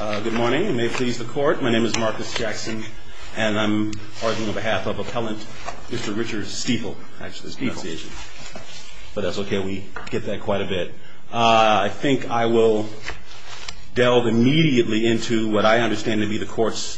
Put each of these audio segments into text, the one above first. Good morning, and may it please the court, my name is Marcus Jackson, and I'm arguing on behalf of Appellant Mr. Richard Stiefel, actually Stiefel, but that's okay, we get that quite a bit. I think I will delve immediately into what I understand to be the court's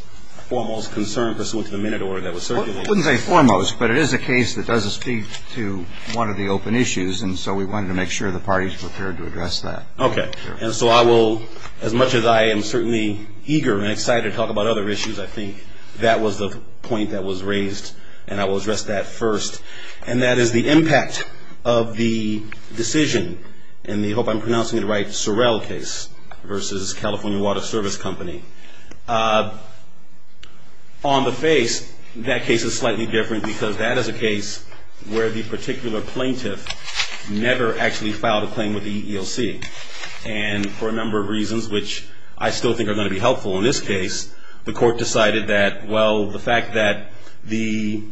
foremost concern pursuant to the minute order that was circulated. Well, I wouldn't say foremost, but it is a case that does speak to one of the open issues, and so we wanted to make sure the party is prepared to address that. Okay, and so I will, as much as I am certainly eager and excited to talk about other issues, I think that was the point that was raised, and I will address that first. And that is the impact of the decision in the, I hope I'm pronouncing it right, Sorrell case versus California Water Service Company. On the face, that case is slightly different, because that is a case where the particular plaintiff never actually filed a claim with the EEOC. And for a number of reasons, which I still think are going to be helpful in this case, the court decided that, well, the fact that the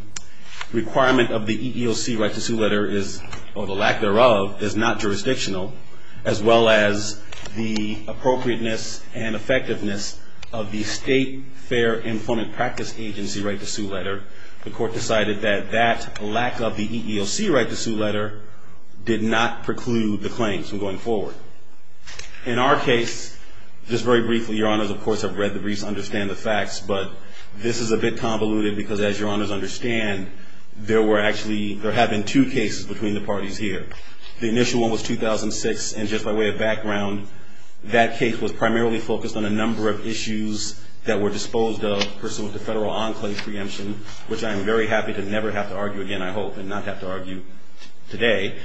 requirement of the EEOC right to sue letter is, or the lack thereof, is not jurisdictional, as well as the appropriateness and effectiveness of the state fair employment practice agency right to sue letter, the court decided that that lack of the EEOC right to sue letter did not preclude the claims from going forward. In our case, just very briefly, Your Honors, of course, I've read the briefs, understand the facts, but this is a bit convoluted, because as Your Honors understand, there were actually, there have been two cases between the parties here. The initial one was 2006, and just by way of background, that case was primarily focused on a number of issues that were disposed of pursuant to federal enclave preemption, which I am very happy to never have to argue again, I hope, and not have to argue today.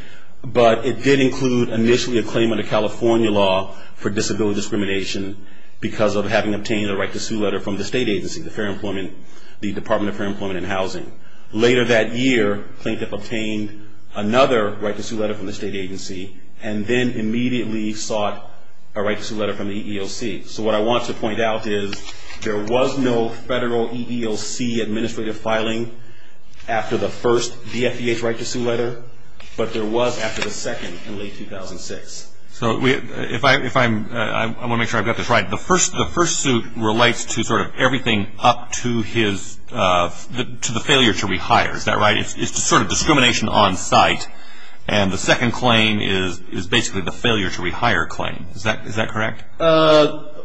But it did include initially a claim under California law for disability discrimination because of having obtained a right to sue letter from the state agency, the Department of Fair Employment and Housing. Later that year, plaintiff obtained another right to sue letter from the state agency, and then immediately sought a right to sue letter from the EEOC. So what I want to point out is there was no federal EEOC administrative filing after the first DFDH right to sue letter, but there was after the second in late 2006. So if I'm, I want to make sure I've got this right. The first suit relates to sort of everything up to his, to the failure to rehire. Is that right? It's sort of discrimination on site, and the second claim is basically the failure to rehire claim. Is that correct?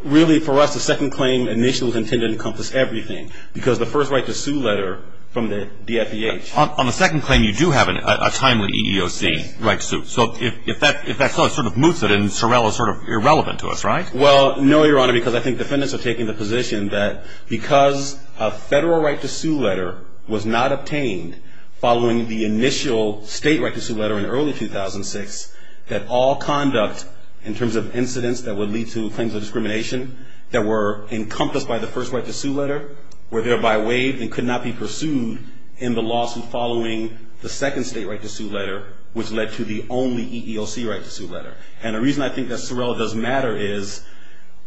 Really, for us, the second claim initially was intended to encompass everything, because the first right to sue letter from the DFDH. On the second claim, you do have a timely EEOC right to sue. So if that sort of moves it, and Sorrell is sort of irrelevant to us, right? Well, no, Your Honor, because I think defendants are taking the position that because a federal right to sue letter was not obtained following the initial state right to sue letter in early 2006, that all conduct in terms of incidents that would lead to claims of discrimination that were encompassed by the first right to sue letter were thereby waived and could not be pursued in the lawsuit following the second state right to sue letter, which led to the only EEOC right to sue letter. And the reason I think that Sorrell does matter is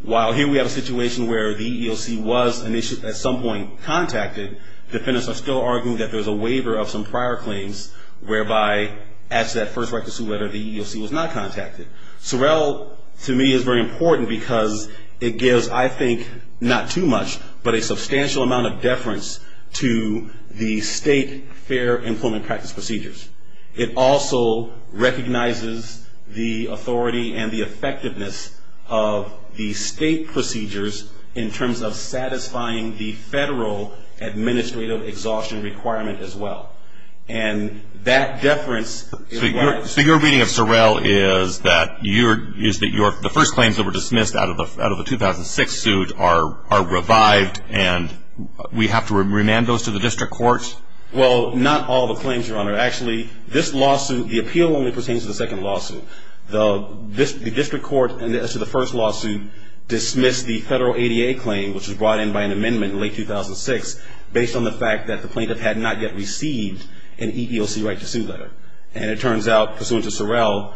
while here we have a situation where the EEOC was initially at some point contacted, defendants are still arguing that there's a waiver of some prior claims, whereby at that first right to sue letter, the EEOC was not contacted. Sorrell, to me, is very important because it gives, I think, not too much, but a substantial amount of deference to the state fair employment practice procedures. It also recognizes the authority and the effectiveness of the state procedures in terms of satisfying the federal administrative exhaustion requirement as well. And that deference is why. So your reading of Sorrell is that the first claims that were dismissed out of the 2006 suit are revived and we have to remand those to the district court? Well, not all the claims, Your Honor. Actually, this lawsuit, the appeal only pertains to the second lawsuit. The district court, as to the first lawsuit, dismissed the federal ADA claim, which was brought in by an amendment in late 2006, based on the fact that the plaintiff had not yet received an EEOC right to sue letter. And it turns out, pursuant to Sorrell,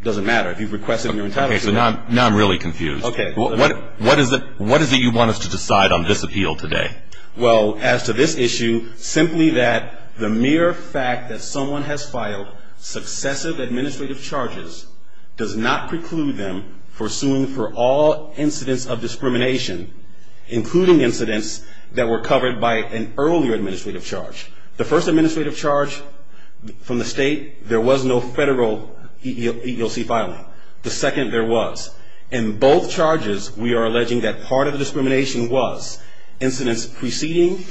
it doesn't matter. If you request it in your entirety. Okay. So now I'm really confused. Okay. What is it you want us to decide on this appeal today? Well, as to this issue, simply that the mere fact that someone has filed successive administrative charges does not preclude them from suing for all incidents of discrimination, including incidents that were covered by an earlier administrative charge. The first administrative charge from the state, there was no federal EEOC filing. The second, there was. In both charges, we are alleging that part of the discrimination was incidents preceding,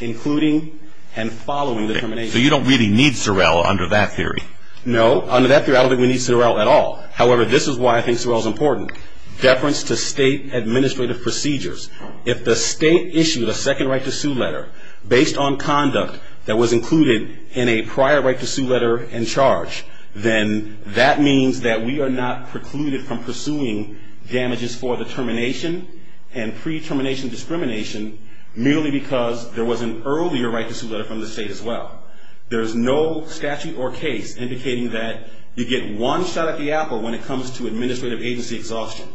including, and following the termination. Okay. So you don't really need Sorrell under that theory? No. Under that theory, I don't think we need Sorrell at all. However, this is why I think Sorrell is important. Deference to state administrative procedures. If the state issued a second right to sue letter, based on conduct that was included in a prior right to sue letter and charge, then that means that we are not precluded from pursuing damages for the termination and pre-termination discrimination, merely because there was an earlier right to sue letter from the state as well. There's no statute or case indicating that you get one shot at the apple when it comes to administrative agency exhaustion.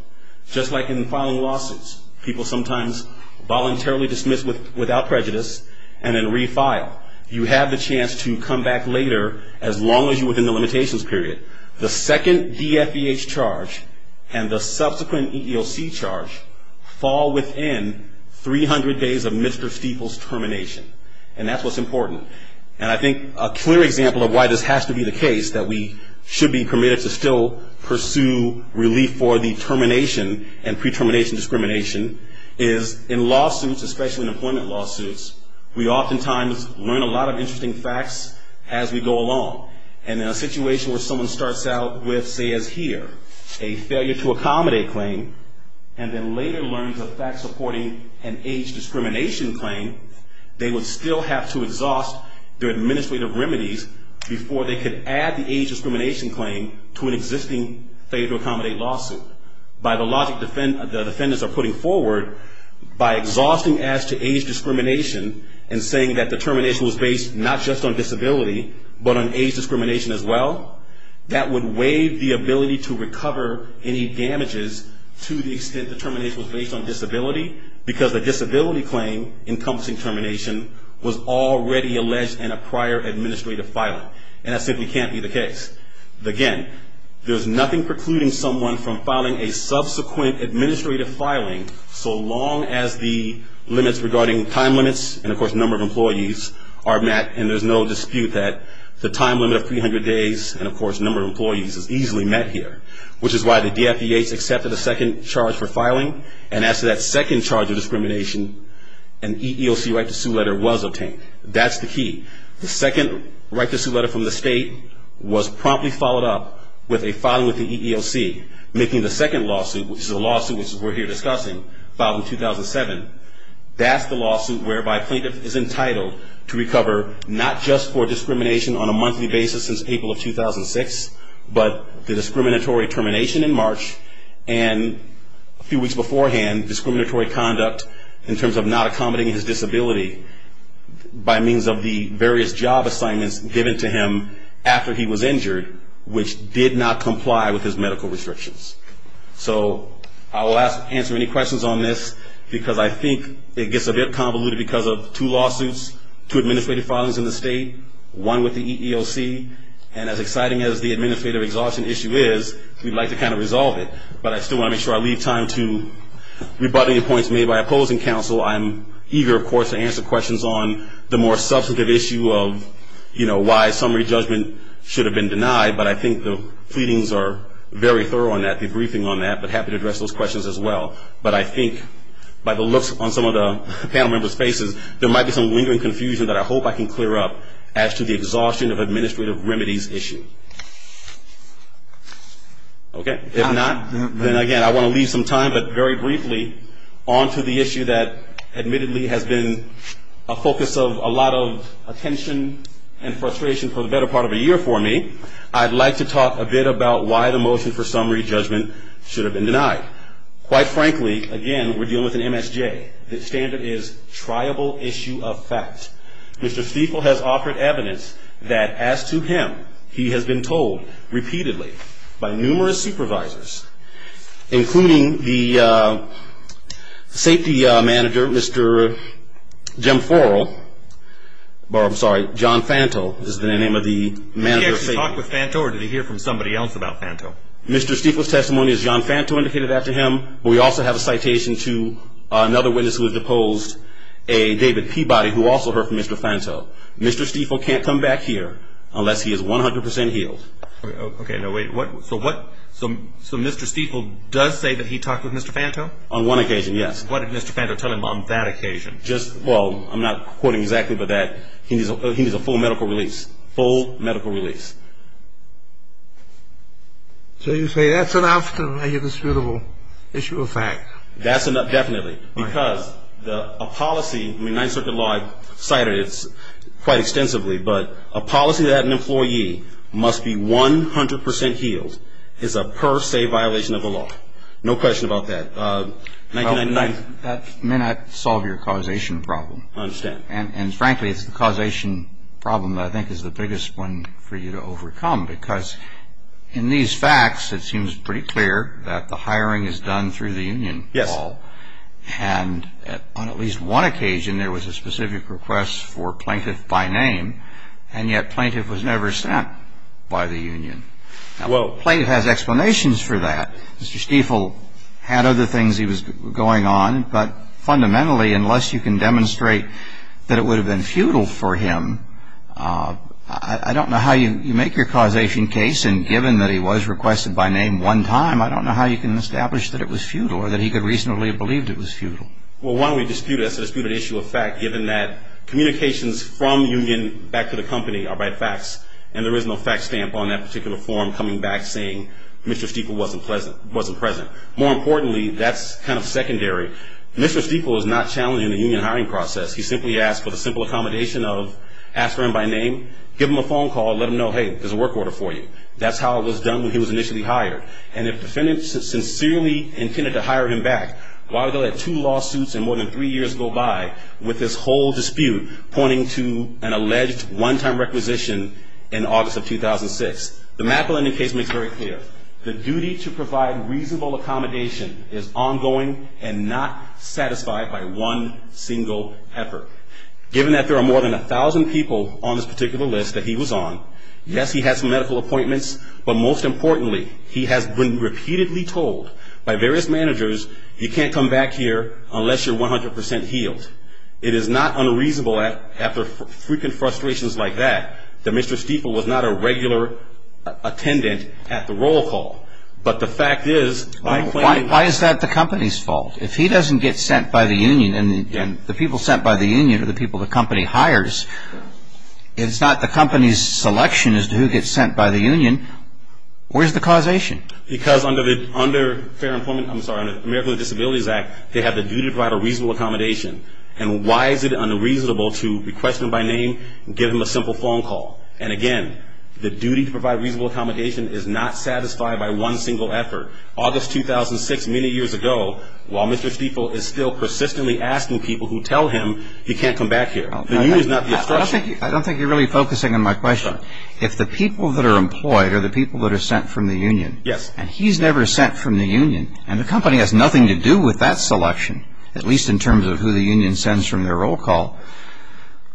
Just like in filing lawsuits, people sometimes voluntarily dismiss without prejudice and then refile. You have the chance to come back later, as long as you're within the limitations period. The second DFEH charge and the subsequent EEOC charge fall within 300 days of Mr. Stiefel's termination. And that's what's important. And I think a clear example of why this has to be the case, that we should be permitted to still pursue relief for the termination and pre-termination discrimination, is in lawsuits, especially in employment lawsuits, we oftentimes learn a lot of interesting facts as we go along. And in a situation where someone starts out with, say, as here, a failure to accommodate claim, and then later learns a fact supporting an age discrimination claim, they would still have to exhaust their administrative remedies before they could add the age discrimination claim to an existing failure to accommodate lawsuit. By the logic the defendants are putting forward, by exhausting as to age discrimination and saying that the termination was based not just on disability, but on age discrimination as well, that would waive the ability to recover any damages to the extent the termination was based on disability, because the disability claim encompassing termination was already alleged in a prior administrative filing. And that simply can't be the case. Again, there's nothing precluding someone from filing a subsequent administrative filing, so long as the limits regarding time limits and, of course, number of employees are met, and there's no dispute that the time limit of 300 days and, of course, number of employees is easily met here, which is why the DFDA has accepted a second charge for filing. And as to that second charge of discrimination, an EEOC right to sue letter was obtained. That's the key. The second right to sue letter from the state was promptly followed up with a filing with the EEOC, making the second lawsuit, which is the lawsuit we're here discussing, filed in 2007. That's the lawsuit whereby a plaintiff is entitled to recover not just for discrimination on a monthly basis since April of 2006, but the discriminatory termination in March and a few weeks beforehand, in terms of not accommodating his disability by means of the various job assignments given to him after he was injured, which did not comply with his medical restrictions. So I will answer any questions on this, because I think it gets a bit convoluted because of two lawsuits, two administrative filings in the state, one with the EEOC, and as exciting as the administrative exhaustion issue is, we'd like to kind of resolve it, but I still want to make sure I leave time to rebut any points made by opposing counsel. I'm eager, of course, to answer questions on the more substantive issue of, you know, why summary judgment should have been denied, but I think the pleadings are very thorough on that, debriefing on that, but happy to address those questions as well. But I think by the looks on some of the panel members' faces, there might be some lingering confusion that I hope I can clear up as to the exhaustion of administrative remedies issue. Okay? If not, then again, I want to leave some time, but very briefly, on to the issue that admittedly has been a focus of a lot of attention and frustration for the better part of a year for me. I'd like to talk a bit about why the motion for summary judgment should have been denied. Quite frankly, again, we're dealing with an MSJ. The standard is triable issue of fact. Mr. Stiefel has offered evidence that as to him, he has been told repeatedly by numerous supervisors, including the safety manager, Mr. Jim Forrell, or I'm sorry, John Fanto is the name of the manager of safety. Did he actually talk with Fanto, or did he hear from somebody else about Fanto? Mr. Stiefel's testimony is John Fanto indicated after him. We also have a citation to another witness who has deposed a David Peabody who also heard from Mr. Fanto. Mr. Stiefel can't come back here unless he is 100 percent healed. Okay, no, wait. So what, so Mr. Stiefel does say that he talked with Mr. Fanto? On one occasion, yes. What did Mr. Fanto tell him on that occasion? Just, well, I'm not quoting exactly, but that he needs a full medical release, full medical release. So you say that's enough to make a disputable issue of fact. That's enough, definitely, because a policy, I mean, Ninth Circuit law cited it quite extensively, but a policy that an employee must be 100 percent healed is a per se violation of the law. No question about that. That may not solve your causation problem. I understand. And, frankly, it's the causation problem that I think is the biggest one for you to overcome, because in these facts it seems pretty clear that the hiring is done through the union, Paul. Yes. And on at least one occasion there was a specific request for plaintiff by name, and yet plaintiff was never sent by the union. Now, the plaintiff has explanations for that. Mr. Stiefel had other things he was going on, but fundamentally unless you can demonstrate that it would have been futile for him, I don't know how you make your causation case, and given that he was requested by name one time, I don't know how you can establish that it was futile or that he could reasonably have believed it was futile. Well, why don't we dispute it as a disputed issue of fact, given that communications from union back to the company are by facts, and there is no fact stamp on that particular form coming back saying Mr. Stiefel wasn't present. More importantly, that's kind of secondary. Mr. Stiefel is not challenging the union hiring process. He simply asked for the simple accommodation of ask for him by name, give him a phone call, let him know, hey, there's a work order for you. That's how it was done when he was initially hired. And if the defendant sincerely intended to hire him back, why would they let two lawsuits in more than three years go by with this whole dispute pointing to an alleged one-time requisition in August of 2006? The map lending case makes very clear. The duty to provide reasonable accommodation is ongoing and not satisfied by one single effort. Given that there are more than 1,000 people on this particular list that he was on, yes, he had some medical appointments, but most importantly, he has been repeatedly told by various managers, you can't come back here unless you're 100% healed. It is not unreasonable after frequent frustrations like that that Mr. Stiefel was not a regular attendant at the roll call. But the fact is, by claiming- Why is that the company's fault? If he doesn't get sent by the union and the people sent by the union are the people the company hires, it's not the company's selection as to who gets sent by the union. Where's the causation? Because under the Fair Employment, I'm sorry, under the Americans with Disabilities Act, they have the duty to provide a reasonable accommodation. And why is it unreasonable to be questioned by name, give him a simple phone call? And again, the duty to provide reasonable accommodation is not satisfied by one single effort. August 2006, many years ago, while Mr. Stiefel is still persistently asking people who tell him he can't come back here, the union is not the obstruction. I don't think you're really focusing on my question. If the people that are employed are the people that are sent from the union, and he's never sent from the union, and the company has nothing to do with that selection, at least in terms of who the union sends from their roll call,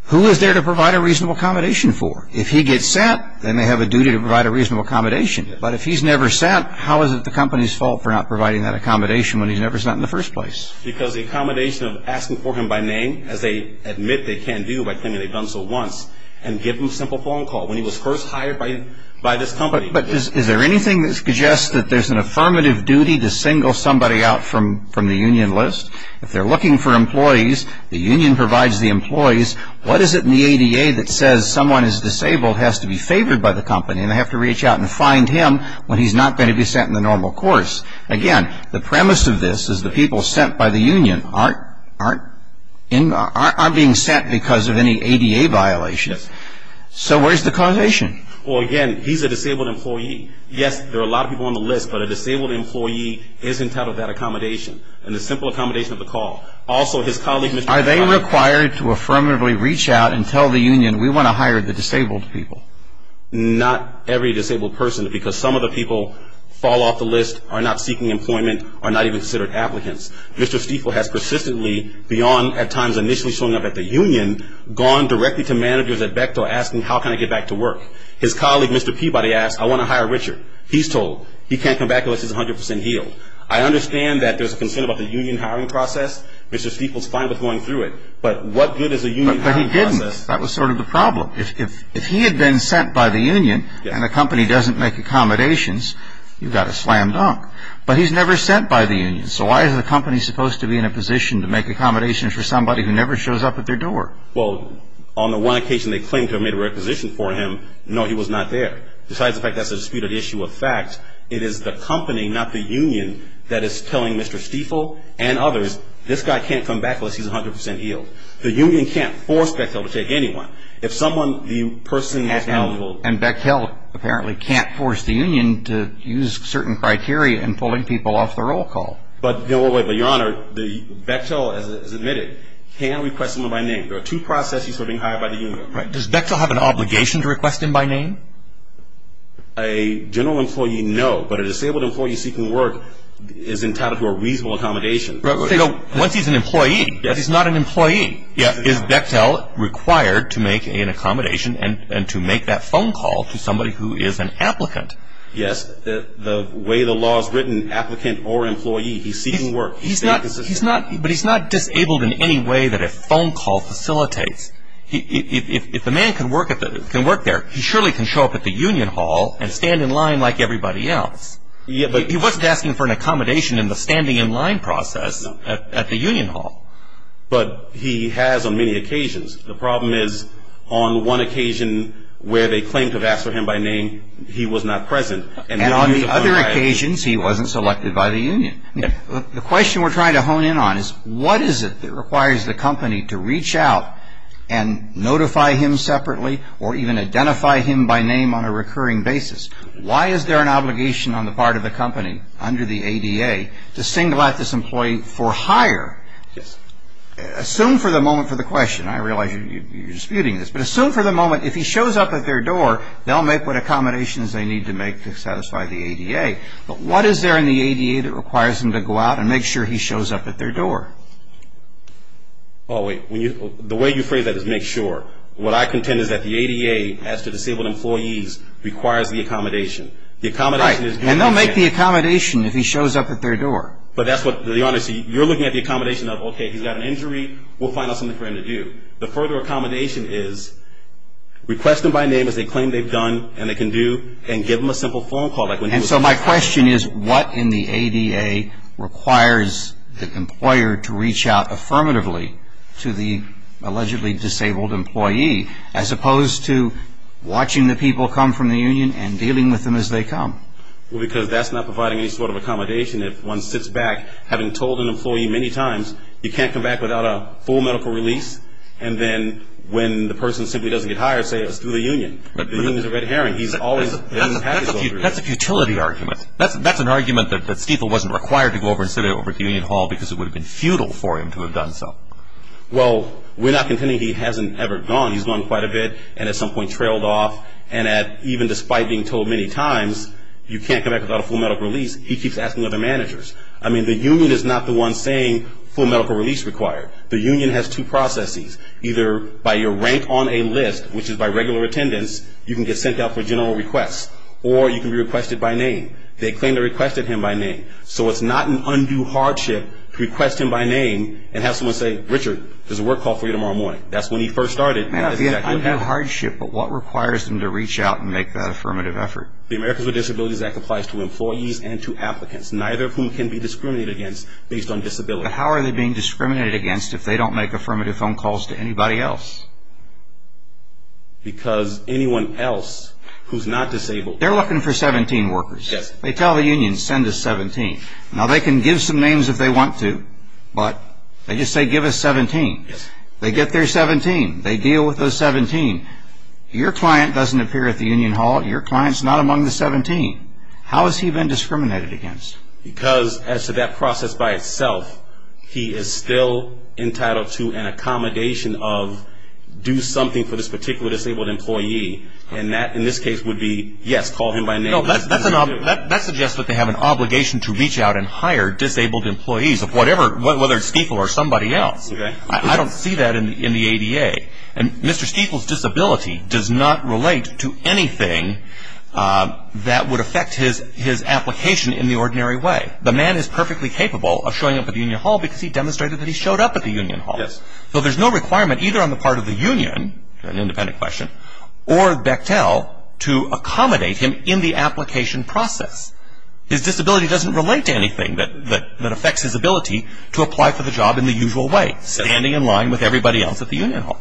who is there to provide a reasonable accommodation for? If he gets sent, then they have a duty to provide a reasonable accommodation. But if he's never sent, how is it the company's fault for not providing that accommodation when he's never sent in the first place? Because the accommodation of asking for him by name, as they admit they can do by claiming they've done so once, and give him a simple phone call when he was first hired by this company. But is there anything that suggests that there's an affirmative duty to single somebody out from the union list? If they're looking for employees, the union provides the employees, what is it in the ADA that says someone who's disabled has to be favored by the company and they have to reach out and find him when he's not going to be sent in the normal course? Again, the premise of this is the people sent by the union aren't being sent because of any ADA violation. So where's the causation? Well, again, he's a disabled employee. Yes, there are a lot of people on the list, but a disabled employee is entitled to that accommodation and the simple accommodation of the call. Also, his colleague Mr. Stiefel... Are they required to affirmatively reach out and tell the union, we want to hire the disabled people? Not every disabled person, because some of the people fall off the list, are not seeking employment, are not even considered applicants. Mr. Stiefel has persistently, beyond at times initially showing up at the union, gone directly to managers at Bechtel asking, how can I get back to work? His colleague, Mr. Peabody, asked, I want to hire Richard. He's told he can't come back unless he's 100% healed. I understand that there's a concern about the union hiring process. Mr. Stiefel's fine with going through it, but what good is a union hiring process... But he didn't. That was sort of the problem. If he had been sent by the union and the company doesn't make accommodations, you've got a slam dunk. But he's never sent by the union, So why is the company supposed to be in a position to make accommodations for somebody who never shows up at their door? Well, on the one occasion they claim to have made a requisition for him, no, he was not there. Besides the fact that's a disputed issue of fact, it is the company, not the union, that is telling Mr. Stiefel and others, this guy can't come back unless he's 100% healed. The union can't force Bechtel to take anyone. If someone, the person... And Bechtel apparently can't force the union to use certain criteria in pulling people off the roll call. But your honor, Bechtel, as admitted, can request someone by name. There are two processes for being hired by the union. Does Bechtel have an obligation to request him by name? A general employee, no. But a disabled employee seeking work is entitled to a reasonable accommodation. Once he's an employee, but he's not an employee, Is Bechtel required to make an accommodation and to make that phone call to somebody who is an applicant? Yes, the way the law is written, applicant or employee, he's seeking work. But he's not disabled in any way that a phone call facilitates. If the man can work there, he surely can show up at the union hall and stand in line like everybody else. He wasn't asking for an accommodation in the standing in line process at the union hall. But he has on many occasions. The problem is on one occasion where they claimed to have asked for him by name, he was not present. And on the other occasions he wasn't selected by the union. The question we're trying to hone in on is what is it that requires the company to reach out and notify him separately or even identify him by name on a recurring basis? Why is there an obligation on the part of the company under the ADA to single out this employee for hire? Yes. Assume for the moment for the question. I realize you're disputing this. But assume for the moment if he shows up at their door, they'll make what accommodations they need to make to satisfy the ADA. But what is there in the ADA that requires him to go out and make sure he shows up at their door? Oh, wait. The way you phrase that is make sure. What I contend is that the ADA, as to disabled employees, requires the accommodation. The accommodation is good. Right. And they'll make the accommodation if he shows up at their door. But that's what the honesty. You're looking at the accommodation of, okay, he's got an injury. We'll find out something for him to do. The further accommodation is request them by name as they claim they've done and they can do and give them a simple phone call. And so my question is what in the ADA requires the employer to reach out affirmatively to the allegedly disabled employee as opposed to watching the people come from the union and dealing with them as they come? Well, because that's not providing any sort of accommodation. If one sits back, having told an employee many times you can't come back without a full medical release, and then when the person simply doesn't get hired, say it was through the union. The union is a red herring. He's always been in the package. That's a futility argument. That's an argument that Stiefel wasn't required to go over and sit over at the union hall because it would have been futile for him to have done so. Well, we're not contending he hasn't ever gone. He's gone quite a bit and at some point trailed off. And even despite being told many times you can't come back without a full medical release, he keeps asking other managers. I mean, the union is not the one saying full medical release required. The union has two processes. Either by your rank on a list, which is by regular attendance, you can get sent out for general requests, or you can be requested by name. They claim they requested him by name. So it's not an undue hardship to request him by name and have someone say, Richard, there's a work call for you tomorrow morning. That's when he first started. It may not be an undue hardship, but what requires them to reach out and make that affirmative effort? The Americans with Disabilities Act applies to employees and to applicants, neither of whom can be discriminated against based on disability. But how are they being discriminated against if they don't make affirmative phone calls to anybody else? Because anyone else who's not disabled... They're looking for 17 workers. Yes. They tell the union, send us 17. Now, they can give some names if they want to, but they just say, give us 17. Yes. They get their 17. They deal with those 17. Your client doesn't appear at the union hall. Your client's not among the 17. How has he been discriminated against? Because, as to that process by itself, he is still entitled to an accommodation of do something for this particular disabled employee. And that, in this case, would be, yes, call him by name. No, that suggests that they have an obligation to reach out and hire disabled employees of whatever, whether it's STFL or somebody else. I don't see that in the ADA. And Mr. Stifel's disability does not relate to anything that would affect his application in the ordinary way. The man is perfectly capable of showing up at the union hall because he demonstrated that he showed up at the union hall. Yes. So there's no requirement either on the part of the union, an independent question, or Bechtel to accommodate him in the application process. His disability doesn't relate to anything that affects his ability to apply for the job in the usual way, standing in line with everybody else at the union hall.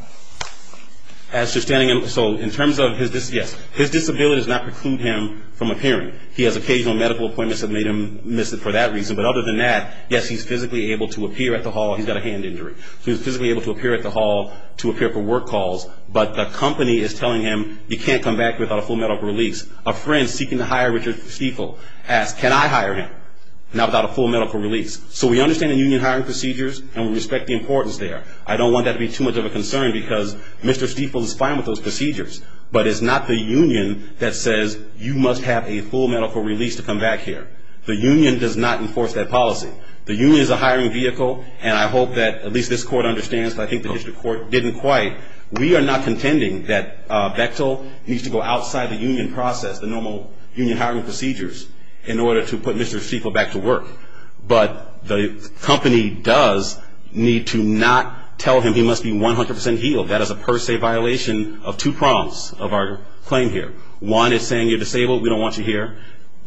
As to standing in line, so in terms of his disability, yes. His disability does not preclude him from appearing. He has occasional medical appointments that made him miss it for that reason. But other than that, yes, he's physically able to appear at the hall. He's got a hand injury. So he's physically able to appear at the hall to appear for work calls. But the company is telling him he can't come back without a full medical release. A friend seeking to hire Richard Stiefel asked, can I hire him? Not without a full medical release. So we understand the union hiring procedures and we respect the importance there. I don't want that to be too much of a concern because Mr. Stiefel is fine with those procedures. But it's not the union that says you must have a full medical release to come back here. The union does not enforce that policy. The union is a hiring vehicle, and I hope that at least this court understands, but I think the district court didn't quite. We are not contending that Bechtel needs to go outside the union process, the normal union hiring procedures, in order to put Mr. Stiefel back to work. But the company does need to not tell him he must be 100% healed. That is a per se violation of two prompts of our claim here. One is saying you're disabled, we don't want you here.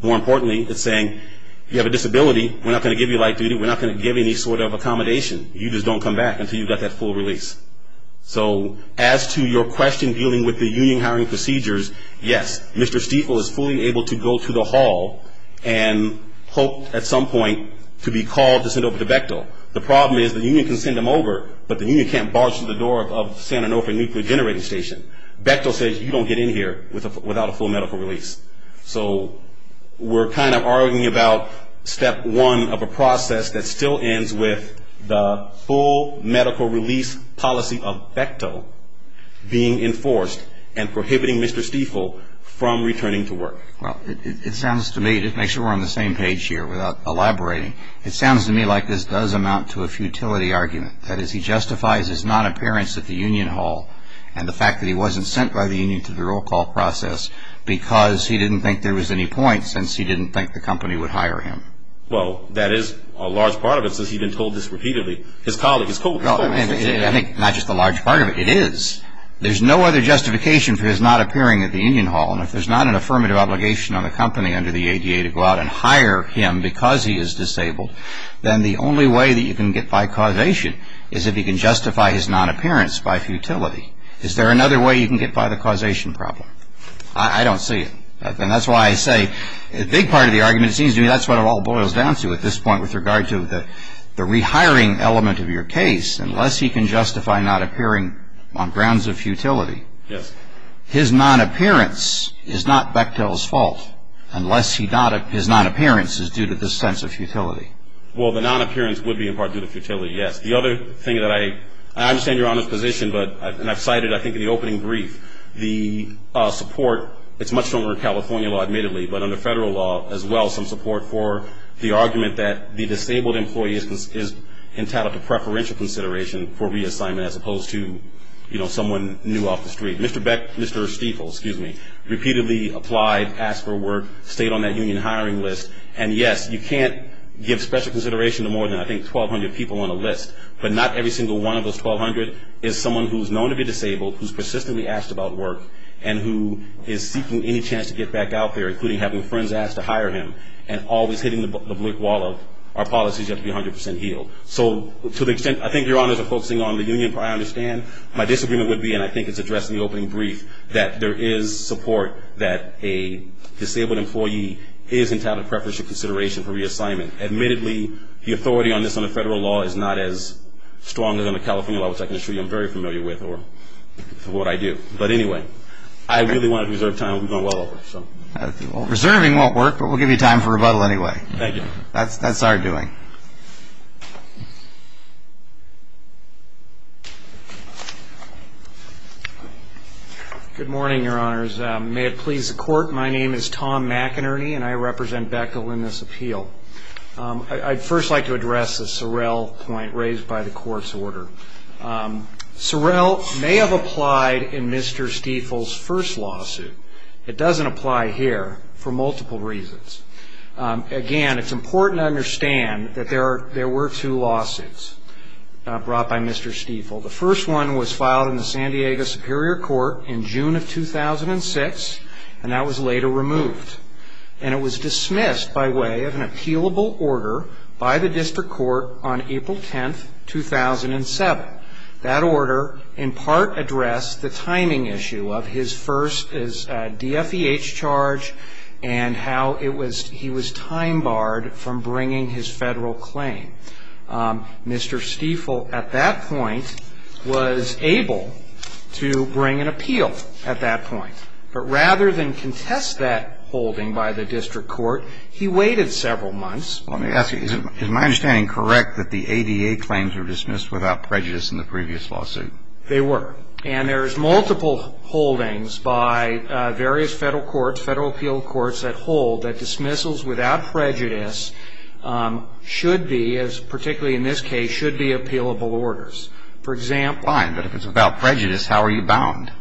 More importantly, it's saying you have a disability, we're not going to give you light duty, we're not going to give you any sort of accommodation. You just don't come back until you've got that full release. So as to your question dealing with the union hiring procedures, yes, Mr. Stiefel is fully able to go to the hall and hope at some point to be called to send over to Bechtel. The problem is the union can send him over, but the union can't barge through the door of San Onofre Nuclear Generating Station. Bechtel says you don't get in here without a full medical release. So we're kind of arguing about step one of a process that still ends with the full medical release policy of Bechtel being enforced and prohibiting Mr. Stiefel from returning to work. Well, it sounds to me, to make sure we're on the same page here without elaborating, it sounds to me like this does amount to a futility argument. That is, he justifies his non-appearance at the union hall and the fact that he wasn't sent by the union to the roll call process because he didn't think there was any point since he didn't think the company would hire him. Well, that is a large part of it since he's been told this repeatedly. His colleagues told him. I think not just a large part of it. It is. There's no other justification for his not appearing at the union hall. And if there's not an affirmative obligation on the company under the ADA to go out and hire him because he is disabled, then the only way that you can get by causation is if he can justify his non-appearance by futility. Is there another way you can get by the causation problem? I don't see it. And that's why I say a big part of the argument seems to me that's what it all boils down to at this point with regard to the rehiring element of your case, unless he can justify not appearing on grounds of futility. Yes. His non-appearance is not Bechtel's fault unless his non-appearance is due to this sense of futility. Well, the non-appearance would be in part due to futility, yes. The other thing that I understand Your Honor's position, and I've cited I think in the opening brief, the support. It's much stronger in California law admittedly, but under federal law as well some support for the argument that the disabled employee is entitled to preferential consideration for reassignment as opposed to, you know, someone new off the street. Mr. Bechtel, Mr. Stiefel, excuse me, repeatedly applied, asked for work, stayed on that union hiring list. And yes, you can't give special consideration to more than I think 1,200 people on a list, but not every single one of those 1,200 is someone who's known to be disabled, who's persistently asked about work, and who is seeking any chance to get back out there, including having friends ask to hire him, and always hitting the brick wall of our policies have to be 100% healed. So to the extent I think Your Honor's are focusing on the union part, I understand my disagreement would be, and I think it's addressed in the opening brief, that there is support that a disabled employee is entitled to preferential consideration for reassignment. Admittedly, the authority on this under federal law is not as strong as on the California level, which I can assure you I'm very familiar with or what I do. But anyway, I really want to reserve time. We've gone well over, so. Reserving won't work, but we'll give you time for rebuttal anyway. Thank you. That's our doing. Good morning, Your Honors. May it please the Court, my name is Tom McInerney, and I represent Beckel in this appeal. I'd first like to address the Sorrell point raised by the Court's order. Sorrell may have applied in Mr. Stiefel's first lawsuit. It doesn't apply here for multiple reasons. Again, it's important to understand that there were two lawsuits brought by Mr. Stiefel. The first one was filed in the San Diego Superior Court in June of 2006, and that was later removed. And it was dismissed by way of an appealable order by the district court on April 10, 2007. That order in part addressed the timing issue of his first DFEH charge and how he was time barred from bringing his federal claim. Mr. Stiefel, at that point, was able to bring an appeal at that point. But rather than contest that holding by the district court, he waited several months. Let me ask you, is my understanding correct that the ADA claims were dismissed without prejudice in the previous lawsuit? They were. And there's multiple holdings by various federal courts, federal appeal courts, that hold that dismissals without prejudice should be, as particularly in this case, should be appealable orders. For example. Fine. But if it's without prejudice, how are you bound?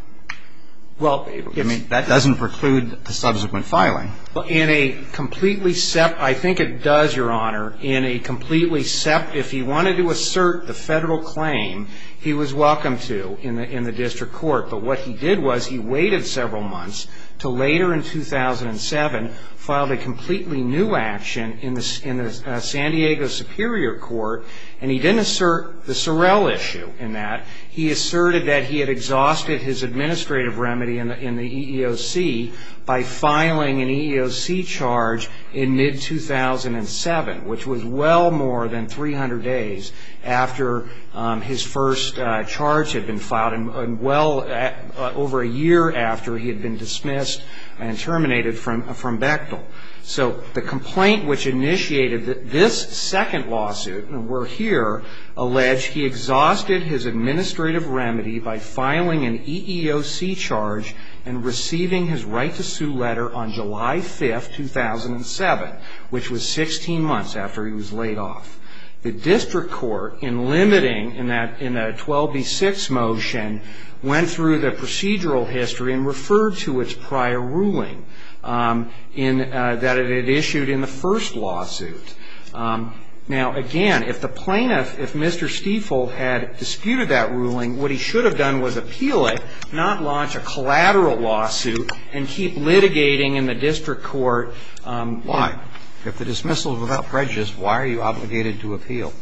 Well. I mean, that doesn't preclude the subsequent filing. In a completely sep- I think it does, Your Honor. In a completely sep- If he wanted to assert the federal claim, he was welcome to in the district court. But what he did was he waited several months until later in 2007, filed a completely new action in the San Diego Superior Court. And he didn't assert the Sorrell issue in that. He asserted that he had exhausted his administrative remedy in the EEOC by filing an EEOC charge in mid-2007, which was well more than 300 days after his first charge had been filed, and well over a year after he had been dismissed and terminated from Bechtel. So the complaint which initiated this second lawsuit, and we're here, alleged he exhausted his administrative remedy by filing an EEOC charge and receiving his right to sue letter on July 5, 2007, which was 16 months after he was laid off. The district court, in limiting, in a 12B6 motion, went through the procedural history and referred to its prior ruling that it had issued in the first lawsuit. Now, again, if the plaintiff, if Mr. Stiefel had disputed that ruling, what he should have done was appeal it, not launch a collateral lawsuit, and keep litigating in the district court. Why? If the dismissal is without prejudice, why are you obligated to appeal?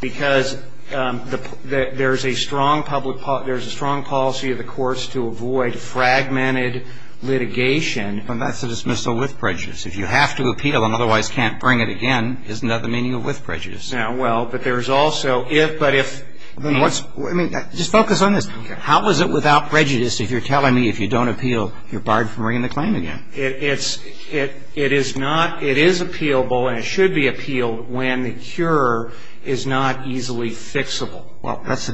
Because there's a strong public policy, there's a strong policy of the courts to avoid fragmented litigation. And that's a dismissal with prejudice. If you have to appeal and otherwise can't bring it again, isn't that the meaning of with prejudice? Well, but there's also if, but if. I mean, just focus on this. How is it without prejudice if you're telling me if you don't appeal, you're barred from bringing the claim again? It is not, it is appealable and it should be appealed when the cure is not easily fixable. Well, that's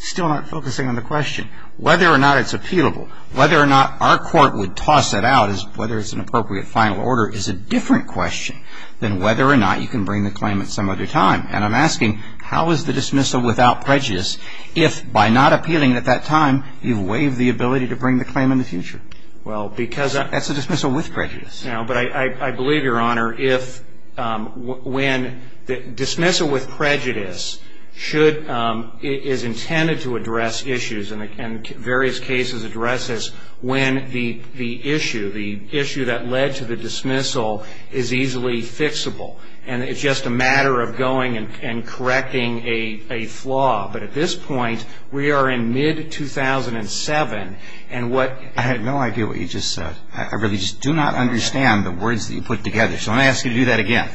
still not focusing on the question. Whether or not it's appealable, whether or not our court would toss it out, whether it's an appropriate final order is a different question than whether or not you can bring the claim at some other time. And I'm asking, how is the dismissal without prejudice if, by not appealing at that time, you've waived the ability to bring the claim in the future? Well, because I. That's a dismissal with prejudice. No, but I believe, Your Honor, if when the dismissal with prejudice should, is intended to address issues and various cases addresses when the issue, the issue that led to the dismissal is easily fixable. And it's just a matter of going and correcting a flaw. But at this point, we are in mid-2007, and what. I have no idea what you just said. I really just do not understand the words that you put together. So I'm going to ask you to do that again.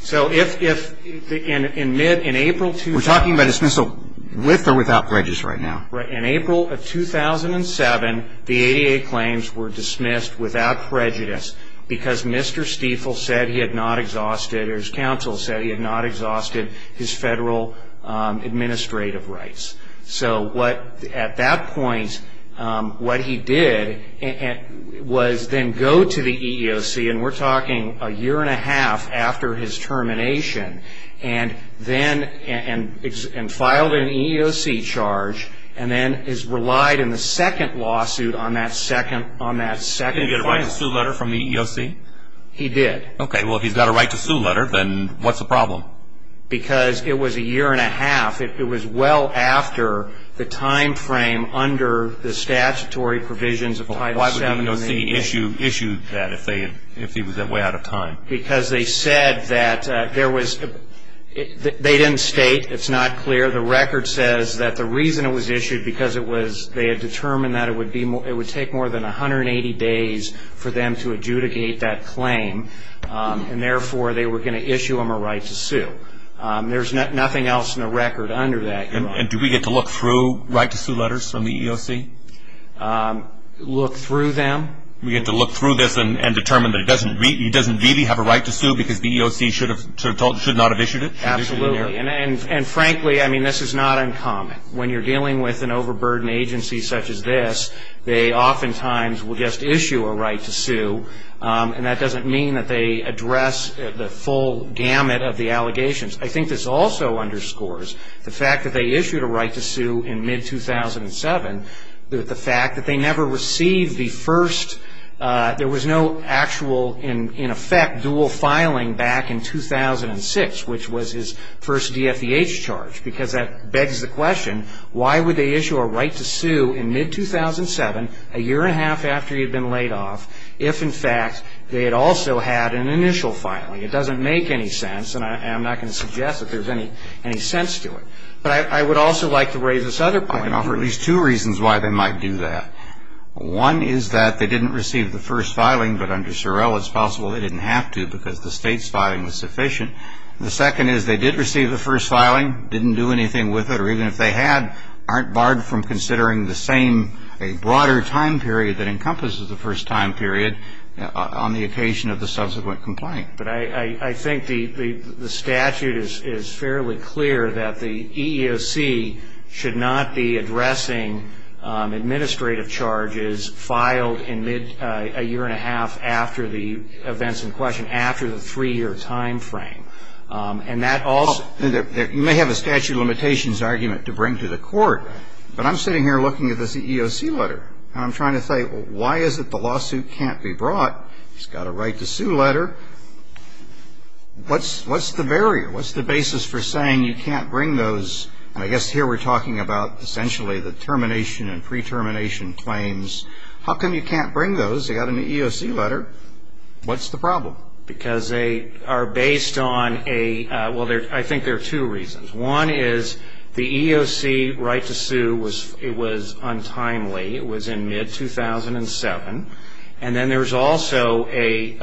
So if in mid, in April. We're talking about dismissal with or without prejudice right now. In April of 2007, the ADA claims were dismissed without prejudice because Mr. Stiefel said he had not exhausted, or his counsel said he had not exhausted his federal administrative rights. So what, at that point, what he did was then go to the EEOC, and we're talking a year and a half after his termination, and then, and filed an EEOC charge, and then has relied in the second lawsuit on that second, on that second. Did he get a right to sue letter from the EEOC? He did. Okay, well, if he's got a right to sue letter, then what's the problem? Because it was a year and a half. It was well after the time frame under the statutory provisions of Title VII. Why would the EEOC issue that if he was that way out of time? Because they said that there was, they didn't state, it's not clear, the record says that the reason it was issued because it was, they had determined that it would take more than 180 days for them to adjudicate that claim, and therefore they were going to issue him a right to sue. There's nothing else in the record under that. And do we get to look through right to sue letters from the EEOC? Look through them? We get to look through this and determine that he doesn't really have a right to sue because the EEOC should not have issued it? Absolutely. And frankly, I mean, this is not uncommon. When you're dealing with an overburdened agency such as this, they oftentimes will just issue a right to sue, and that doesn't mean that they address the full gamut of the allegations. I think this also underscores the fact that they issued a right to sue in mid-2007, and the fact that they never received the first, there was no actual, in effect, dual filing back in 2006, which was his first DFVH charge, because that begs the question, why would they issue a right to sue in mid-2007, a year and a half after he had been laid off, if, in fact, they had also had an initial filing? It doesn't make any sense, and I'm not going to suggest that there's any sense to it. But I would also like to raise this other point. There are at least two reasons why they might do that. One is that they didn't receive the first filing, but under Sorrell, it's possible they didn't have to because the state's filing was sufficient. The second is they did receive the first filing, didn't do anything with it, or even if they had, aren't barred from considering the same, a broader time period that encompasses the first time period on the occasion of the subsequent complaint. But I think the statute is fairly clear that the EEOC should not be addressing administrative charges filed in mid, a year and a half after the events in question, after the three-year time frame. And that also you may have a statute of limitations argument to bring to the Court, but I'm sitting here looking at this EEOC letter, and I'm trying to say, well, why is it the lawsuit can't be brought? It's got a right to sue letter. What's the barrier? What's the basis for saying you can't bring those? And I guess here we're talking about essentially the termination and pre-termination claims. How come you can't bring those? They got an EEOC letter. What's the problem? Because they are based on a, well, I think there are two reasons. One is the EEOC right to sue, it was untimely. It was in mid-2007. And then there's also a,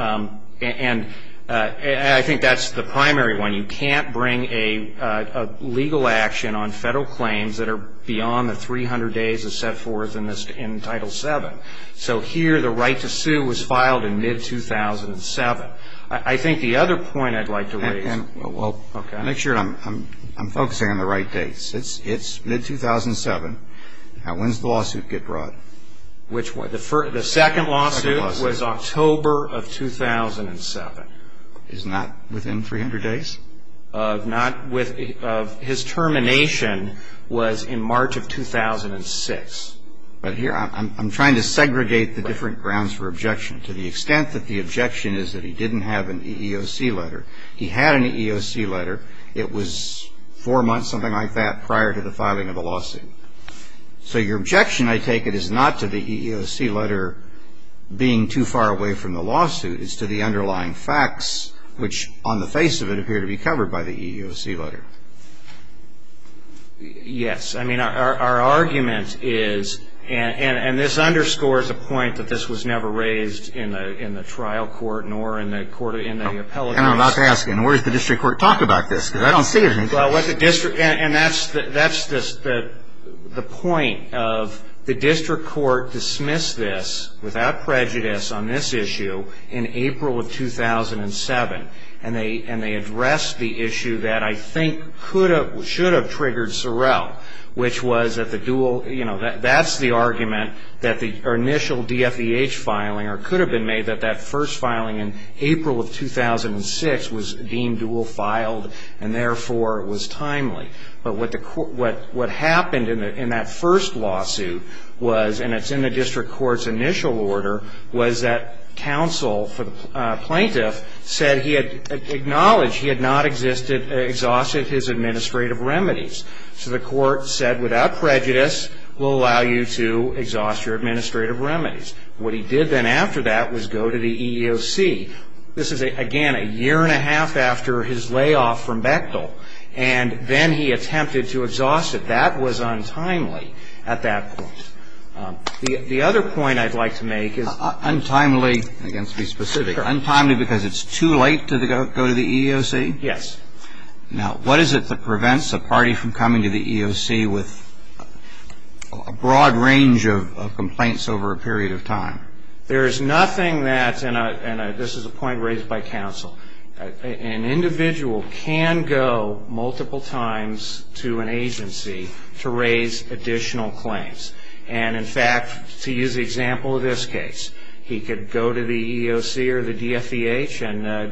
and I think that's the primary one, you can't bring a legal action on federal claims that are beyond the 300 days that's set forth in this, in Title VII. So here the right to sue was filed in mid-2007. I think the other point I'd like to raise. Well, make sure I'm focusing on the right dates. It's mid-2007. When does the lawsuit get brought? The second lawsuit was October of 2007. It's not within 300 days? His termination was in March of 2006. But here I'm trying to segregate the different grounds for objection to the extent that the objection is that he didn't have an EEOC letter. He had an EEOC letter. It was four months, something like that, prior to the filing of the lawsuit. So your objection, I take it, is not to the EEOC letter being too far away from the lawsuit. It's to the underlying facts, which on the face of it appear to be covered by the EEOC letter. Yes. I mean, our argument is, and this underscores the point that this was never raised in the trial court nor in the appellate courts. And I'm about to ask you, where does the district court talk about this? Because I don't see anything. And that's the point of the district court dismissed this, without prejudice, on this issue in April of 2007. And they addressed the issue that I think should have triggered Sorrell, which was that the dual, you know, that's the argument that the initial DFEH filing, or it could have been made that that first filing in April of 2006 was deemed dual filed and therefore was timely. But what happened in that first lawsuit was, and it's in the district court's initial order, was that counsel for the plaintiff said he had acknowledged he had not exhausted his administrative remedies. So the court said, without prejudice, we'll allow you to exhaust your administrative remedies. What he did then after that was go to the EEOC. This is, again, a year and a half after his layoff from Bechtel. And then he attempted to exhaust it. That was untimely at that point. The other point I'd like to make is untimely, again, to be specific, untimely because it's too late to go to the EEOC? Yes. Now, what is it that prevents a party from coming to the EEOC with a broad range of complaints over a period of time? There is nothing that's in a, and this is a point raised by counsel, an individual can go multiple times to an agency to raise additional claims. And, in fact, to use the example of this case, he could go to the EEOC or the DFVH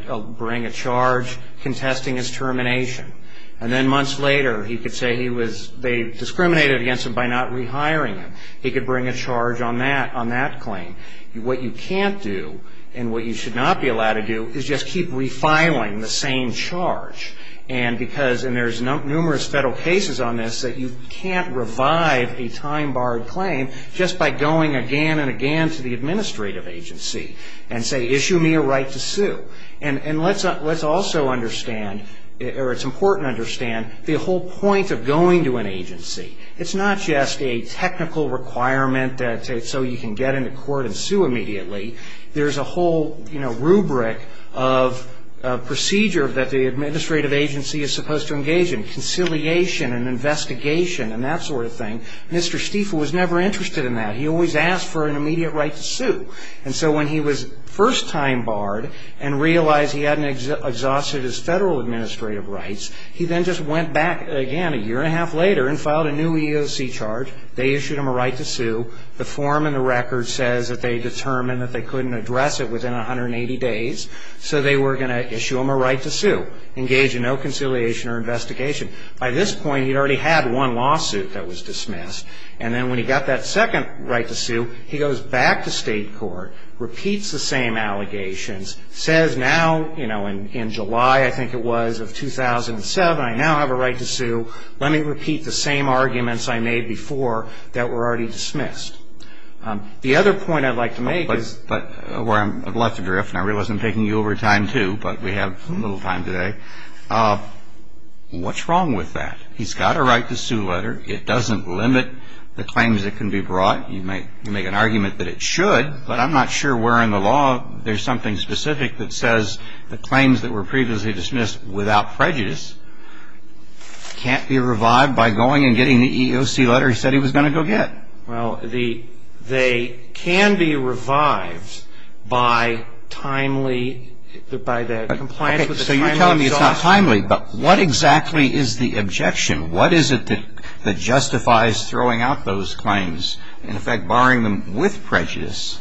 and bring a charge contesting his termination. And then months later he could say he was, they discriminated against him by not rehiring him. He could bring a charge on that claim. What you can't do and what you should not be allowed to do is just keep refiling the same charge. And because, and there's numerous federal cases on this, that you can't revive a time-barred claim just by going again and again to the administrative agency and say, issue me a right to sue. And let's also understand, or it's important to understand, the whole point of going to an agency. It's not just a technical requirement so you can get into court and sue immediately. There's a whole, you know, rubric of procedure that the administrative agency is supposed to engage in, conciliation and investigation and that sort of thing. Mr. Stiefel was never interested in that. He always asked for an immediate right to sue. And so when he was first time-barred and realized he hadn't exhausted his federal administrative rights, he then just went back again a year and a half later and filed a new EEOC charge. They issued him a right to sue. The form in the record says that they determined that they couldn't address it within 180 days. So they were going to issue him a right to sue, engage in no conciliation or investigation. By this point, he'd already had one lawsuit that was dismissed. And then when he got that second right to sue, he goes back to state court, repeats the same allegations, says now, you know, in July, I think it was, of 2007, I now have a right to sue. Let me repeat the same arguments I made before that were already dismissed. The other point I'd like to make is... But where I'm left adrift, and I realize I'm taking you over time, too, but we have little time today, what's wrong with that? He's got a right to sue letter. It doesn't limit the claims that can be brought. You make an argument that it should, but I'm not sure where in the law there's something specific that says the claims that were previously dismissed without prejudice can't be revived by going and getting the EEOC letter he said he was going to go get. Well, they can be revived by timely, by the compliance with the timely... Okay, so you're telling me it's not timely. But what exactly is the objection? What is it that justifies throwing out those claims, and, in fact, barring them with prejudice?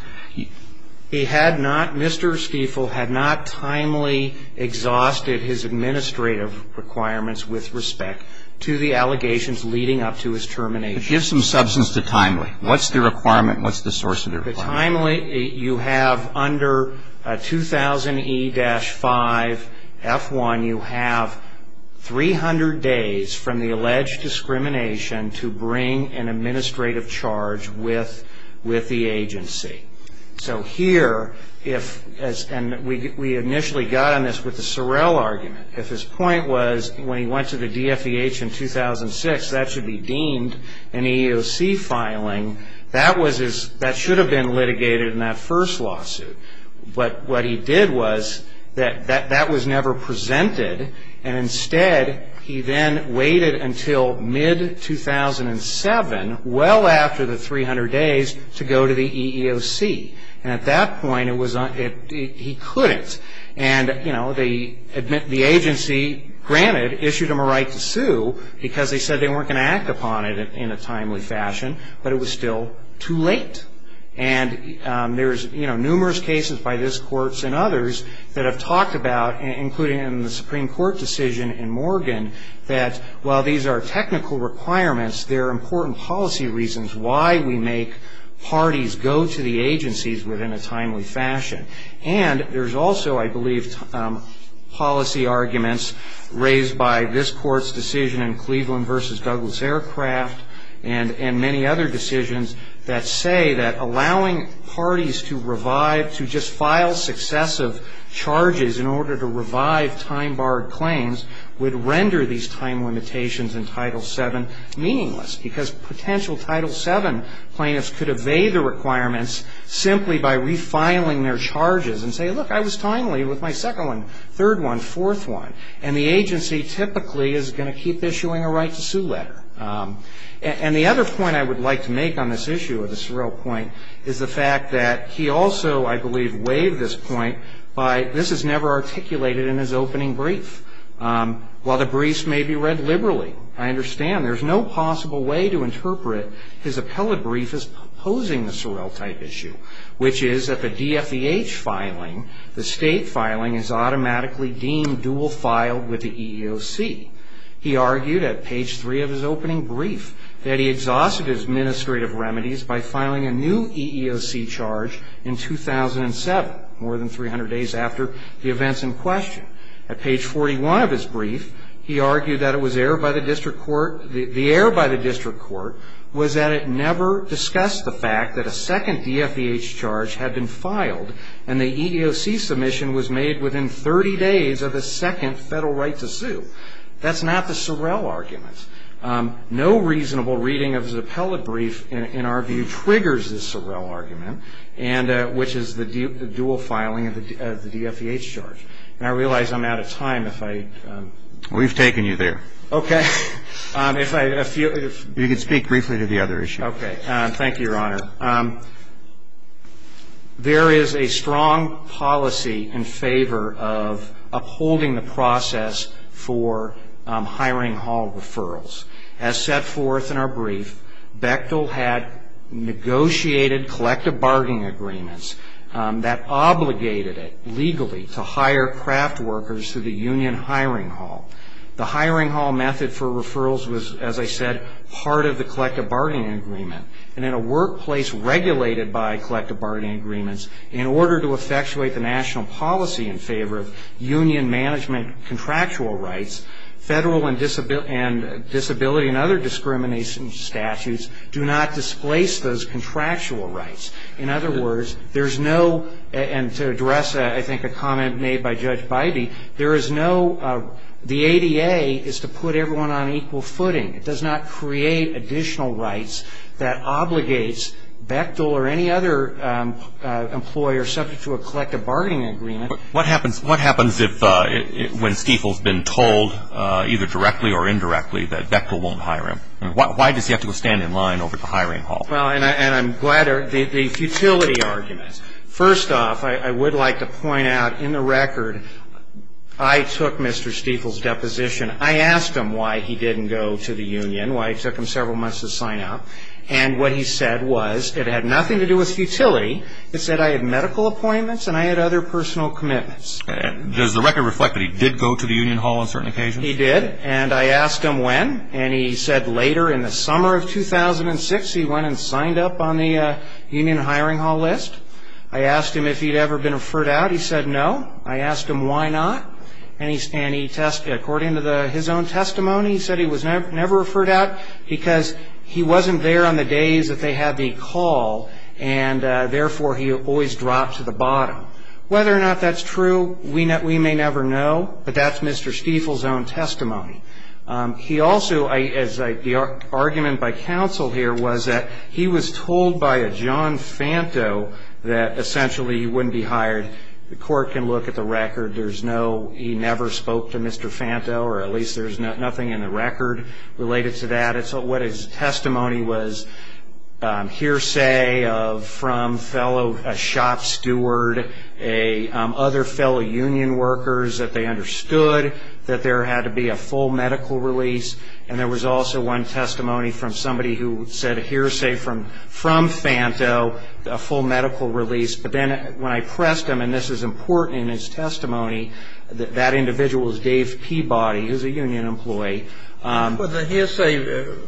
He had not, Mr. Stiefel had not timely exhausted his administrative requirements with respect to the allegations leading up to his termination. But give some substance to timely. What's the requirement? What's the source of the requirement? The timely, you have under 2000E-5F1, you have 300 days from the alleged discrimination to bring an administrative charge with the agency. So here, and we initially got on this with the Sorrell argument, if his point was when he went to the DFEH in 2006, that should be deemed an EEOC filing, that should have been litigated in that first lawsuit. But what he did was that that was never presented, and instead he then waited until mid-2007, well after the 300 days, to go to the EEOC. And at that point he couldn't. And, you know, the agency, granted, issued him a right to sue because they said they weren't going to act upon it in a timely fashion, but it was still too late. And there's, you know, numerous cases by this court and others that have talked about, including in the Supreme Court decision in Morgan, that while these are technical requirements, they're important policy reasons why we make parties go to the agencies within a timely fashion. And there's also, I believe, policy arguments raised by this court's decision in Cleveland v. Douglas Aircraft and many other decisions that say that allowing parties to revive, to just file successive charges in order to revive time-barred claims would render these time limitations in Title VII meaningless because potential Title VII plaintiffs could evade the requirements simply by refiling their charges and say, look, I was timely with my second one, third one, fourth one. And the agency typically is going to keep issuing a right to sue letter. And the other point I would like to make on this issue of the Sorrell point is the fact that he also, I believe, waived this point by, this is never articulated in his opening brief. While the briefs may be read liberally, I understand there's no possible way to interpret his appellate brief as opposing the Sorrell-type issue, which is that the DFEH filing, the state filing, is automatically deemed dual-filed with the EEOC. He argued at page three of his opening brief that he exhausted his administrative remedies by filing a new EEOC charge in 2007, more than 300 days after the events in question. At page 41 of his brief, he argued that it was error by the district court, the error by the district court was that it never discussed the fact that a second DFEH charge had been filed and the EEOC submission was made within 30 days of the second federal right to sue. That's not the Sorrell argument. No reasonable reading of his appellate brief, in our view, triggers the Sorrell argument, which is the dual filing of the DFEH charge. And I realize I'm out of time if I... We've taken you there. Okay. If I... You can speak briefly to the other issue. Okay. Thank you, Your Honor. There is a strong policy in favor of upholding the process for hiring hall referrals. As set forth in our brief, Bechtel had negotiated collective bargaining agreements that obligated it legally to hire craft workers to the union hiring hall. The hiring hall method for referrals was, as I said, part of the collective bargaining agreement. And in a workplace regulated by collective bargaining agreements, in order to effectuate the national policy in favor of union management contractual rights, federal and disability and other discrimination statutes do not displace those contractual rights. In other words, there's no... And to address, I think, a comment made by Judge Bybee, there is no... The ADA is to put everyone on equal footing. It does not create additional rights that obligates Bechtel or any other employer subject to a collective bargaining agreement. What happens when Stiefel's been told, either directly or indirectly, that Bechtel won't hire him? Why does he have to go stand in line over at the hiring hall? Well, and I'm glad... The futility argument. First off, I would like to point out, in the record, I took Mr. Stiefel's deposition. I asked him why he didn't go to the union, why it took him several months to sign up. And what he said was it had nothing to do with futility. It said I had medical appointments and I had other personal commitments. Does the record reflect that he did go to the union hall on certain occasions? He did. And I asked him when. And he said later, in the summer of 2006, he went and signed up on the union hiring hall list. I asked him if he'd ever been referred out. He said no. I asked him why not. And according to his own testimony, he said he was never referred out because he wasn't there on the days that they had the call and therefore he always dropped to the bottom. Whether or not that's true, we may never know, but that's Mr. Stiefel's own testimony. He also, as the argument by counsel here, was that he was told by a John Fanto that essentially he wouldn't be hired. The court can look at the record. There's no, he never spoke to Mr. Fanto, or at least there's nothing in the record related to that. But his testimony was hearsay from a shop steward, other fellow union workers that they understood that there had to be a full medical release, and there was also one testimony from somebody who said hearsay from Fanto, a full medical release. But then when I pressed him, and this is important in his testimony, that that individual was Dave Peabody, who's a union employee. Would the hearsay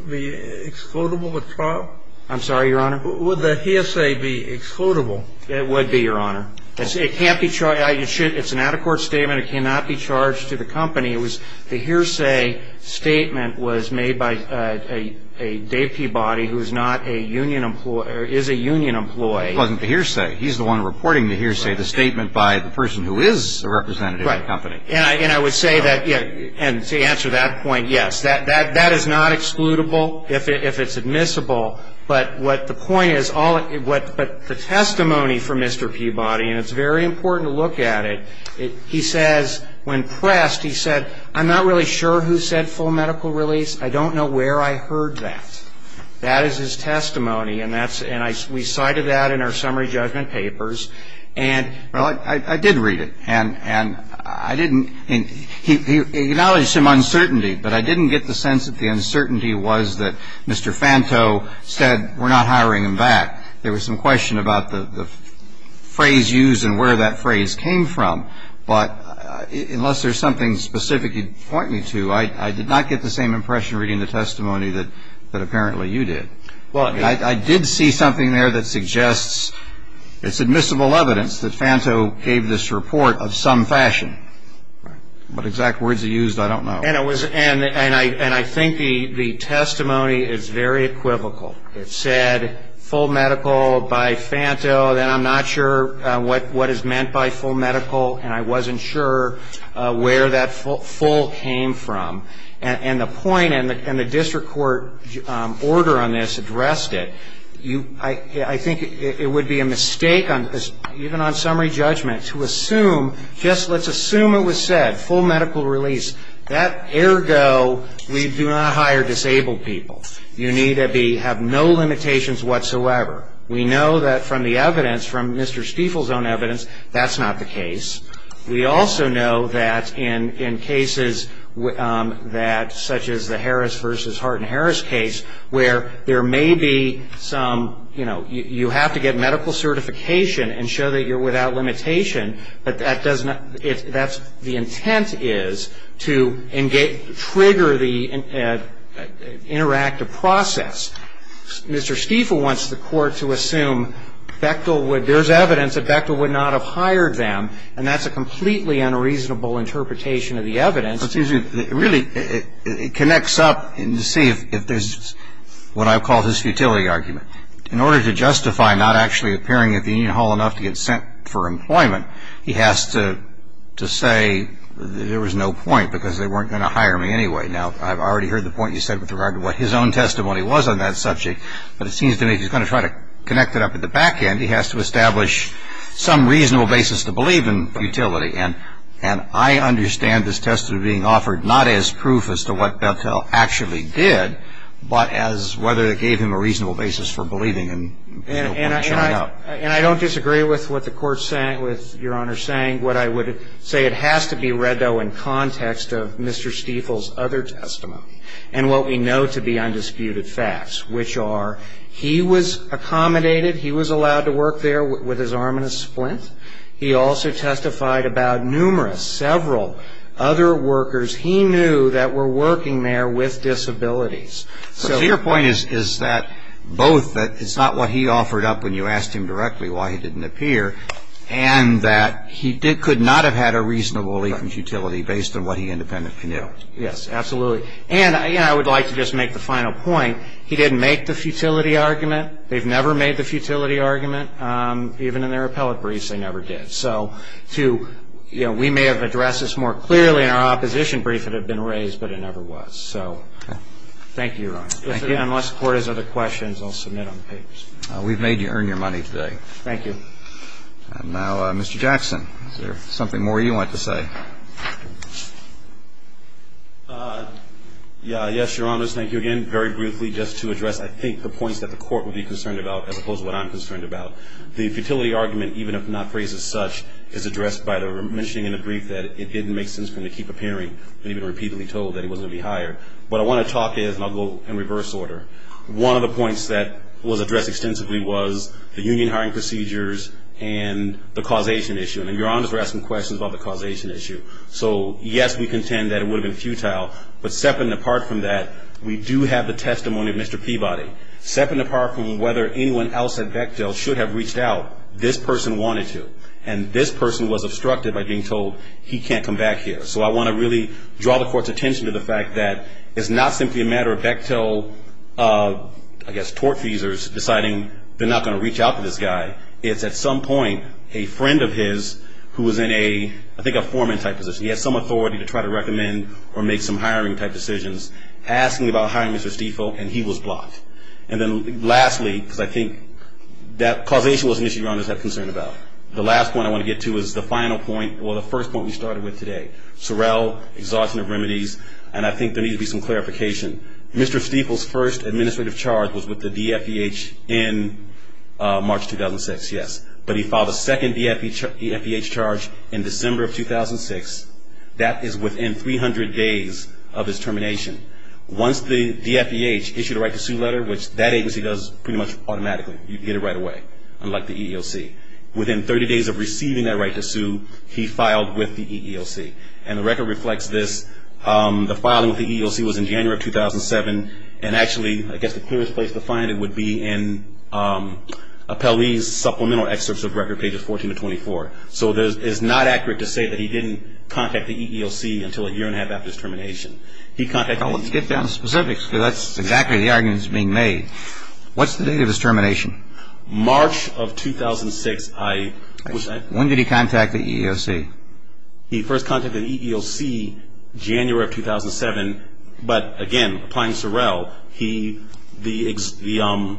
be excludable at trial? I'm sorry, Your Honor? Would the hearsay be excludable? It would be, Your Honor. It can't be charged. It's an out-of-court statement. It cannot be charged to the company. It was the hearsay statement was made by a Dave Peabody who is not a union employee or is a union employee. It wasn't the hearsay. And I would say that, and to answer that point, yes, that is not excludable if it's admissible. But what the point is, but the testimony from Mr. Peabody, and it's very important to look at it, he says when pressed, he said, I'm not really sure who said full medical release. I don't know where I heard that. That is his testimony, and we cited that in our summary judgment papers. And I did read it, and I didn't he acknowledged some uncertainty, but I didn't get the sense that the uncertainty was that Mr. Fanto said we're not hiring him back. There was some question about the phrase used and where that phrase came from. But unless there's something specific you'd point me to, I did not get the same impression reading the testimony that apparently you did. I did see something there that suggests it's admissible evidence that Fanto gave this report of some fashion. What exact words he used, I don't know. And I think the testimony is very equivocal. It said full medical by Fanto, then I'm not sure what is meant by full medical, and I wasn't sure where that full came from. And the point and the district court order on this addressed it. I think it would be a mistake even on summary judgment to assume, just let's assume it was said full medical release. That ergo, we do not hire disabled people. You need to have no limitations whatsoever. We know that from the evidence, from Mr. Stiefel's own evidence, that's not the case. We also know that in cases that, such as the Harris versus Hart and Harris case, where there may be some, you know, you have to get medical certification and show that you're without limitation, but that does not, that's, the intent is to trigger the interactive process. Mr. Stiefel wants the court to assume Bechtel would, there's evidence that Bechtel would not have hired them, and that's a completely unreasonable interpretation of the evidence. Excuse me. Really, it connects up to see if there's what I call his futility argument. In order to justify not actually appearing at the union hall enough to get sent for employment, he has to say there was no point because they weren't going to hire me anyway. Now, I've already heard the point you said with regard to what his own testimony was on that subject, but it seems to me he's going to try to connect it up at the back end. He has to establish some reasonable basis to believe in futility, and I understand this testimony being offered not as proof as to what Bechtel actually did, but as whether it gave him a reasonable basis for believing in no point showing up. And I don't disagree with what the Court's saying, with Your Honor saying. What I would say it has to be read, though, in context of Mr. Stiefel's other testimony and what we know to be undisputed facts, which are he was accommodated, he was allowed to work there with his arm in a splint. He also testified about numerous, several other workers he knew that were working there with disabilities. So your point is that both that it's not what he offered up when you asked him directly why he didn't appear, and that he could not have had a reasonable belief in futility based on what he independently knew. Yes, absolutely. And I would like to just make the final point. He didn't make the futility argument. They've never made the futility argument. Even in their appellate briefs, they never did. So to, you know, we may have addressed this more clearly in our opposition brief. It had been raised, but it never was. So thank you, Your Honor. Thank you. Unless the Court has other questions, I'll submit on the papers. We've made you earn your money today. Thank you. And now, Mr. Jackson, is there something more you want to say? Yes, Your Honors, thank you again. Just very briefly, just to address, I think, the points that the Court would be concerned about, as opposed to what I'm concerned about. The futility argument, even if not phrased as such, is addressed by the mentioning in the brief that it didn't make sense for him to keep appearing when he'd been repeatedly told that he wasn't going to be hired. What I want to talk is, and I'll go in reverse order, one of the points that was addressed extensively was the union hiring procedures and the causation issue. And Your Honors were asking questions about the causation issue. So, yes, we contend that it would have been futile. But separate and apart from that, we do have the testimony of Mr. Peabody. Separate and apart from whether anyone else at Bechtel should have reached out, this person wanted to. And this person was obstructed by being told he can't come back here. So I want to really draw the Court's attention to the fact that it's not simply a matter of Bechtel, I guess, tortfeasors deciding they're not going to reach out to this guy. It's, at some point, a friend of his who was in a, I think, a foreman-type position. He had some authority to try to recommend or make some hiring-type decisions. Asking about hiring Mr. Stiefel, and he was blocked. And then, lastly, because I think that causation was an issue Your Honors had concern about. The last point I want to get to is the final point, well, the first point we started with today. Sorrel, exhaustion of remedies, and I think there needs to be some clarification. Mr. Stiefel's first administrative charge was with the DFEH in March 2006, yes. But he filed a second DFEH charge in December of 2006. That is within 300 days of his termination. Once the DFEH issued a right to sue letter, which that agency does pretty much automatically. You get it right away, unlike the EEOC. Within 30 days of receiving that right to sue, he filed with the EEOC. And the record reflects this. The filing with the EEOC was in January of 2007. And actually, I guess the clearest place to find it would be in Appellee's supplemental excerpts of record pages 14 to 24. So it is not accurate to say that he didn't contact the EEOC until a year and a half after his termination. Let's get down to specifics, because that's exactly the argument that's being made. What's the date of his termination? March of 2006. When did he contact the EEOC? He first contacted the EEOC January of 2007, but again, applying Sorrell, the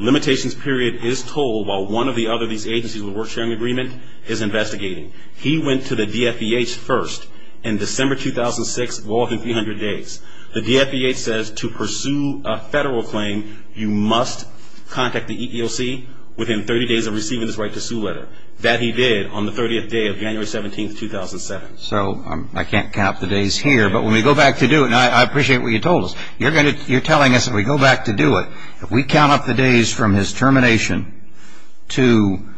limitations period is told while one of the other of these agencies with a work sharing agreement is investigating. He went to the DFEH first in December 2006, walking 300 days. The DFEH says to pursue a federal claim, you must contact the EEOC within 30 days of receiving this right to sue letter. That he did on the 30th day of January 17, 2007. So I can't count the days here, but when we go back to do it, and I appreciate what you told us, you're telling us if we go back to do it, if we count up the days from his termination to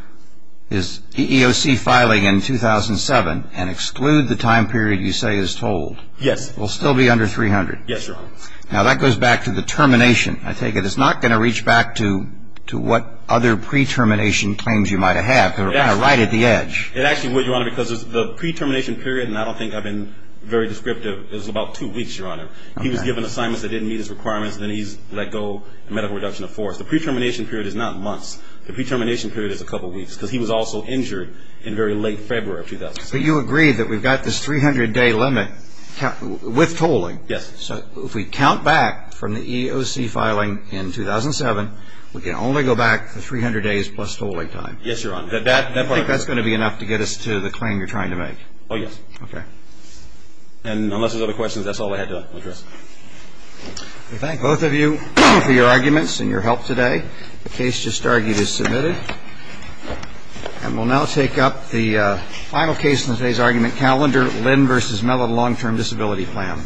his EEOC filing in 2007 and exclude the time period you say is told. Yes. We'll still be under 300. Yes, Your Honor. Now that goes back to the termination. I take it it's not going to reach back to what other pre-termination claims you might have. They're right at the edge. It actually would, Your Honor, because the pre-termination period, and I don't think I've been very descriptive, is about two weeks, Your Honor. He was given assignments that didn't meet his requirements, and then he's let go of medical reduction of force. The pre-termination period is not months. The pre-termination period is a couple weeks, because he was also injured in very late February of 2007. But you agree that we've got this 300-day limit with tolling. Yes. So if we count back from the EEOC filing in 2007, we can only go back 300 days plus tolling time. Yes, Your Honor. I think that's going to be enough to get us to the claim you're trying to make. Oh, yes. Okay. And unless there's other questions, that's all I had to address. We thank both of you for your arguments and your help today. The case just argued is submitted. And we'll now take up the final case in today's argument, Callender-Linn v. Mellon Long-Term Disability Plan.